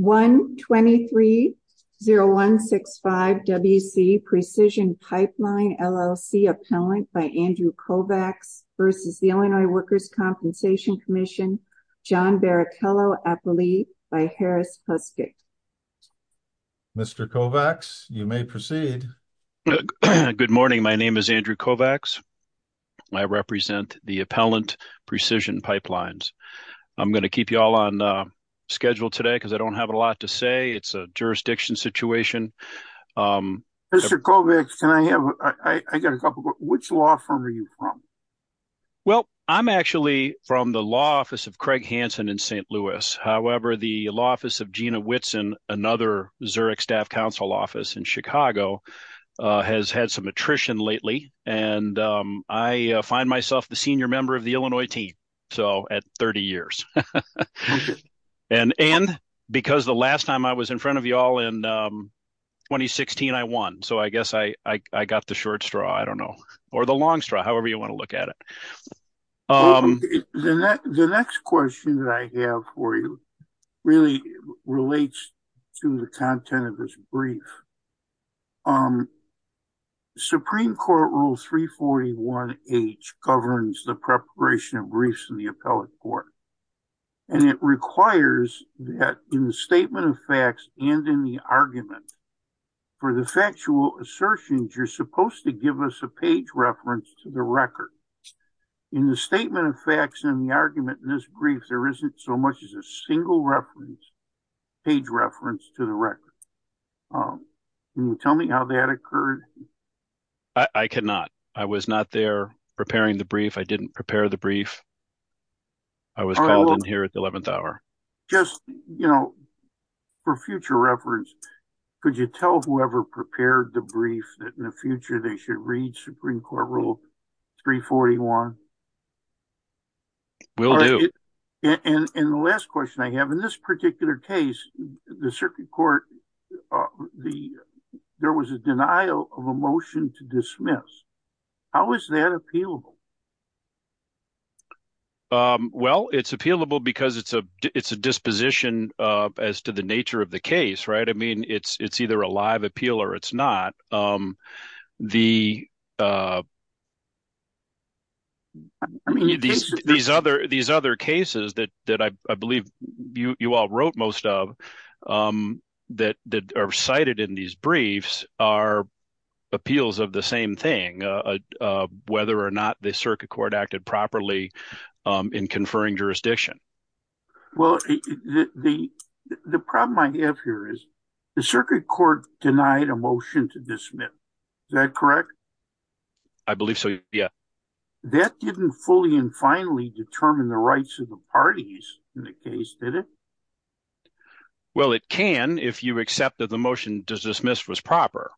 123-0165-WC Precision Pipeline, LLC Appellant by Andrew Kovacs v. Illinois Workers' Compensation Comm'n John Barrichello Appellee by Harris Puskik. Mr. Kovacs, you may proceed. Good morning, my name is Andrew Kovacs. I represent the Appellant Precision Pipelines. I'm going to keep you all on schedule today because I don't have a lot to say. It's a jurisdiction situation. Mr. Kovacs, can I have, I got a couple, which law firm are you from? Well, I'm actually from the law office of Craig Hansen in St. Louis. However, the law office of Gina Whitson, another Zurich staff counsel office in Chicago, has had some attrition lately and I find myself the senior member of the Illinois team, so at 30 years. And because the last time I was in front of you all in 2016, I won. So I guess I got the short straw, I don't know, or the long straw, however you want to look at it. The next question that I have for you really relates to the content of this brief. Supreme Court Rule 341H governs the preparation of briefs in the appellate court and it requires that in the statement of facts and in the argument for the factual assertions, you're supposed to give us a page reference to the record. In the statement of facts and the argument in this brief, there isn't so much as a single page reference to the record. Can you tell me how that occurred? I cannot. I was not there preparing the brief. I didn't prepare the brief. I was called in here at the 11th hour. Just, you know, for future reference, could you tell whoever prepared the brief that in the future they should read Supreme Court Rule 341? Will do. And the last question I have, in this particular case, the circuit court, there was a denial of a motion to dismiss. How is that appealable? Well, it's appealable because it's a disposition as to the nature of the case, right? I mean, it's either a live appeal or it's not. These other cases that I believe you all wrote most of that are cited in these briefs are appeals of the same thing, whether or not the circuit court acted properly in conferring jurisdiction. Well, the problem I have here is the circuit court denied a motion to dismiss. Is that correct? I believe so. Yeah. That didn't fully and finally determine the rights of the parties in the case, did it? Well, it can if you accept that the motion to dismiss was proper.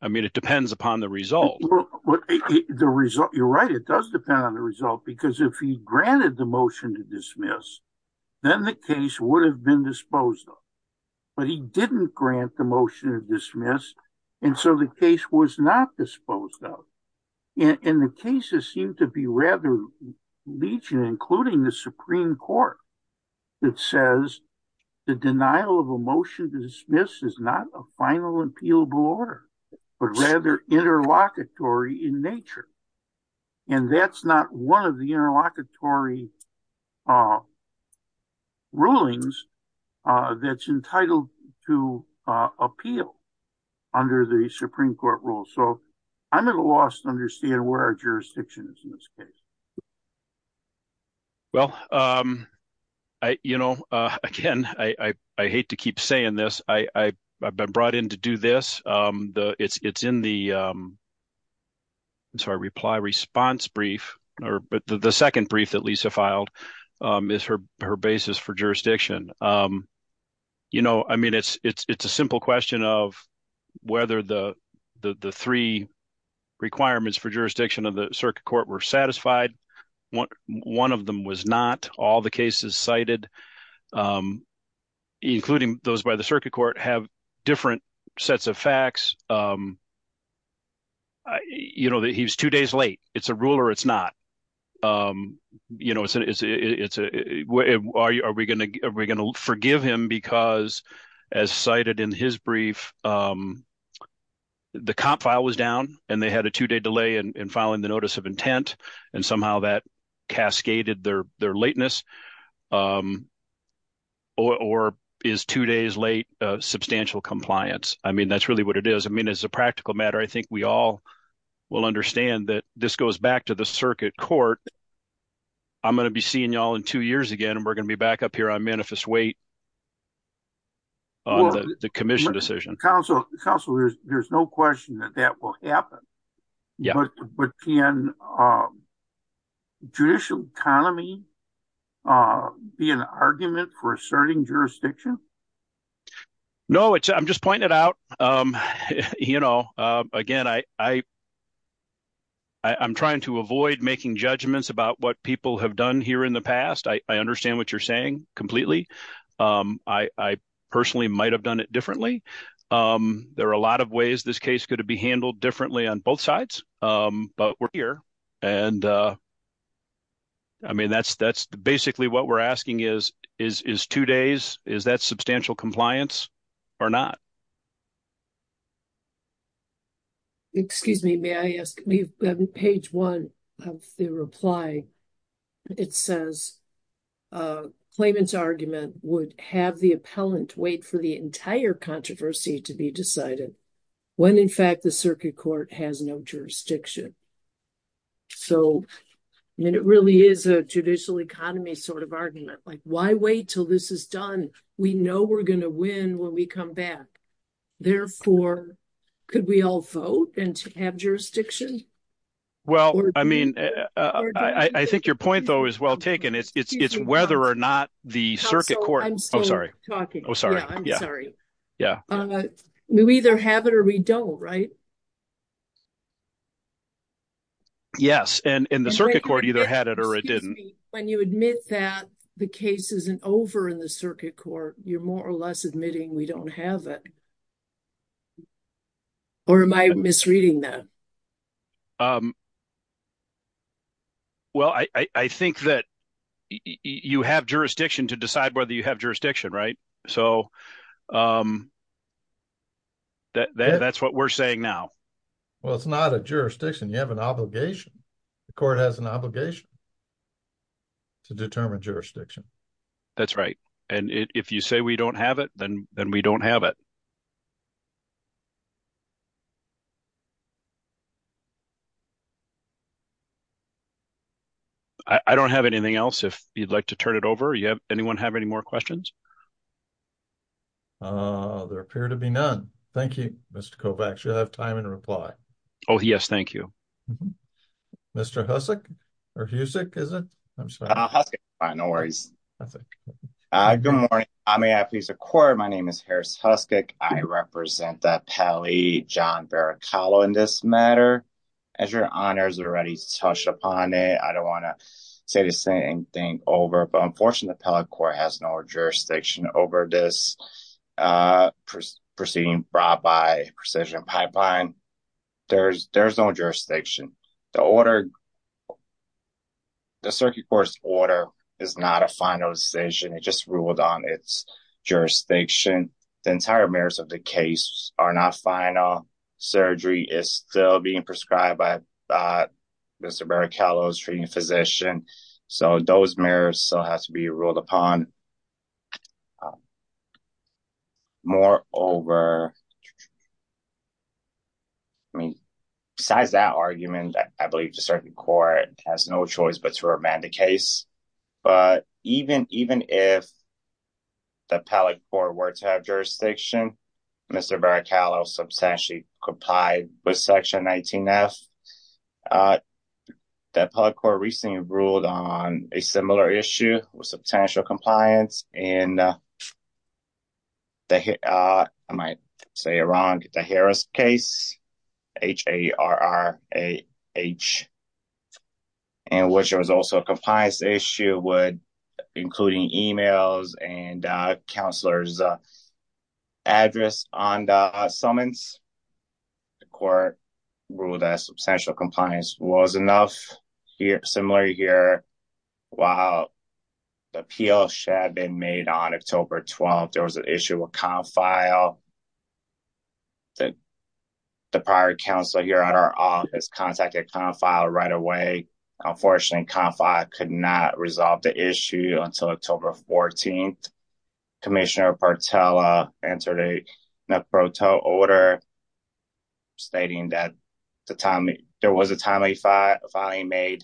I mean, it depends upon the result. Well, you're right. It does depend on the result, because if he granted the motion to dismiss, then the case would have been disposed of. But he didn't grant the motion to dismiss, and so the case was not disposed of. And the cases seem to be rather legion, including the Supreme Court, that says the denial of a motion to dismiss is not a final appealable order, but rather interlocutory in nature. And that's not one of the interlocutory rulings that's entitled to appeal under the Supreme Court rule. So I'm at a loss to understand where our jurisdiction is in this case. Well, you know, again, I hate to keep saying this. I've been brought in to do this. It's in the reply response brief, but the second brief that Lisa filed is her basis for jurisdiction. You know, I mean, it's a simple question of whether the three requirements for jurisdiction of the circuit court were satisfied. One of them was not. All the cases cited, including those by the circuit court, have different sets of facts. You know, he's two days late. It's a rule or it's not. You know, are we going to forgive him because, as cited in his brief, if the comp file was down and they had a two-day delay in filing the notice of intent and somehow that cascaded their lateness, or is two days late substantial compliance? I mean, that's really what it is. I mean, as a practical matter, I think we all will understand that this goes back to the circuit court. I'm going to be seeing you all in two years again, and we're Councilors, there's no question that that will happen. But can judicial economy be an argument for asserting jurisdiction? No, I'm just pointing it out. You know, again, I'm trying to avoid making judgments about what people have done here in the past. I understand what you're saying completely. I personally might have done it differently. There are a lot of ways this case could have been handled differently on both sides, but we're here. I mean, that's basically what we're asking is, is two days, is that substantial compliance or not? Excuse me, may I ask, on page one of the reply, it says, claimant's argument would have the appellant wait for the entire controversy to be decided when, in fact, the circuit court has no jurisdiction. So, I mean, it really is a judicial economy sort of argument. Like, why wait till this is done? We know we're going to win when we come back. Therefore, could we all vote and have jurisdiction? Well, I mean, I think your point, though, is well taken. It's whether or not the circuit court... I'm sorry. We either have it or we don't, right? Yes, and the circuit court either had it or it didn't. When you admit that the case isn't over in the circuit court, you're more or less admitting we don't have it. Or am I misreading that? Well, I think that you have jurisdiction to decide whether you have jurisdiction, right? So, that's what we're saying now. Well, it's not a jurisdiction. You have an obligation. The court has an obligation to determine jurisdiction. That's right. And if you say we don't have it, then we don't have it. I don't have anything else if you'd like to turn it over. Anyone have any more questions? There appear to be none. Thank you, Mr. Kovacs. You have time and reply. Oh, yes. Thank you. Mr. Husick, or Husick, is it? I'm sorry. Husick. No worries. Good morning. I may have to use the court. My name is Harris Husick. I represent the Pele John Veracallo in this matter. As your honors already touched upon it, I don't want to say the same thing over, but unfortunately, the Pele court has no jurisdiction over this proceeding brought by Precision Pipeline. There is no jurisdiction. The circuit court's order is not a final decision. It just ruled on its jurisdiction. The entire merits of the case are not final. Surgery is still being prescribed by Mr. Veracallo's treating physician. Those merits still have to be ruled upon. Moreover, besides that argument, I believe the circuit court has no choice but to remand the case. Even if the Pele court were to have jurisdiction, Mr. Veracallo substantially complied with Section 19F. The Pele court recently ruled on a similar issue with substantial compliance in, I might say, around the Harris case, H-A-R-R-A-H, in which there was also a summons. The court ruled that substantial compliance was enough. Similarly here, while the appeal should have been made on October 12th, there was an issue with confile. The prior counsel here at our office contacted confile right away. Unfortunately, confile could not resolve the issue until October 14th. Commissioner Partella entered a order stating that there was a timely filing made.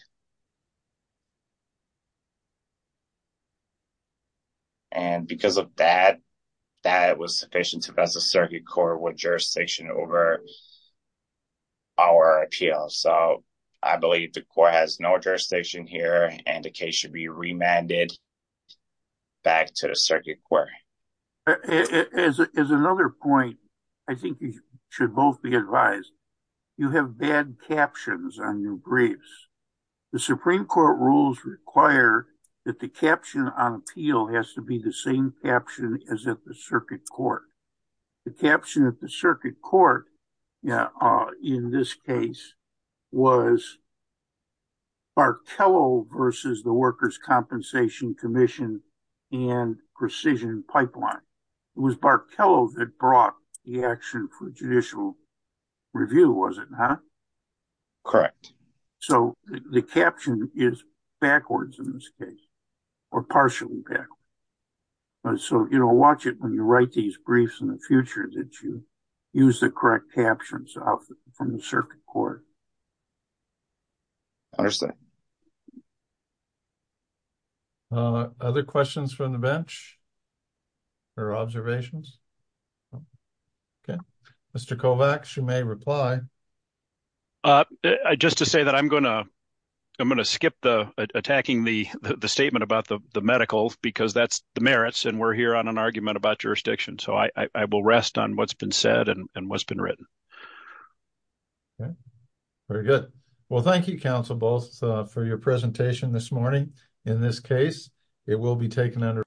Because of that, it was sufficient to pass a circuit court with jurisdiction over our appeal. I believe the court has no jurisdiction here and the case should be remanded back to the circuit court. As another point, I think you should both be advised. You have bad captions on your briefs. The Supreme Court rules require that the caption on appeal has to be the same caption as at the circuit court. The caption at the circuit court in this case was Barkello versus the Workers' Compensation Commission and Precision Pipeline. It was Barkello that brought the action for judicial review, was it not? Correct. So, the caption is backwards in this case, or partially backwards. So, you know, watch it when you write these briefs that you use the correct captions of from the circuit court. Other questions from the bench or observations? Mr. Kovacs, you may reply. Just to say that I'm going to skip attacking the statement about the medical because that's the rest on what's been said and what's been written. Very good. Well, thank you, counsel, both for your presentation this morning. In this case, it will be taken under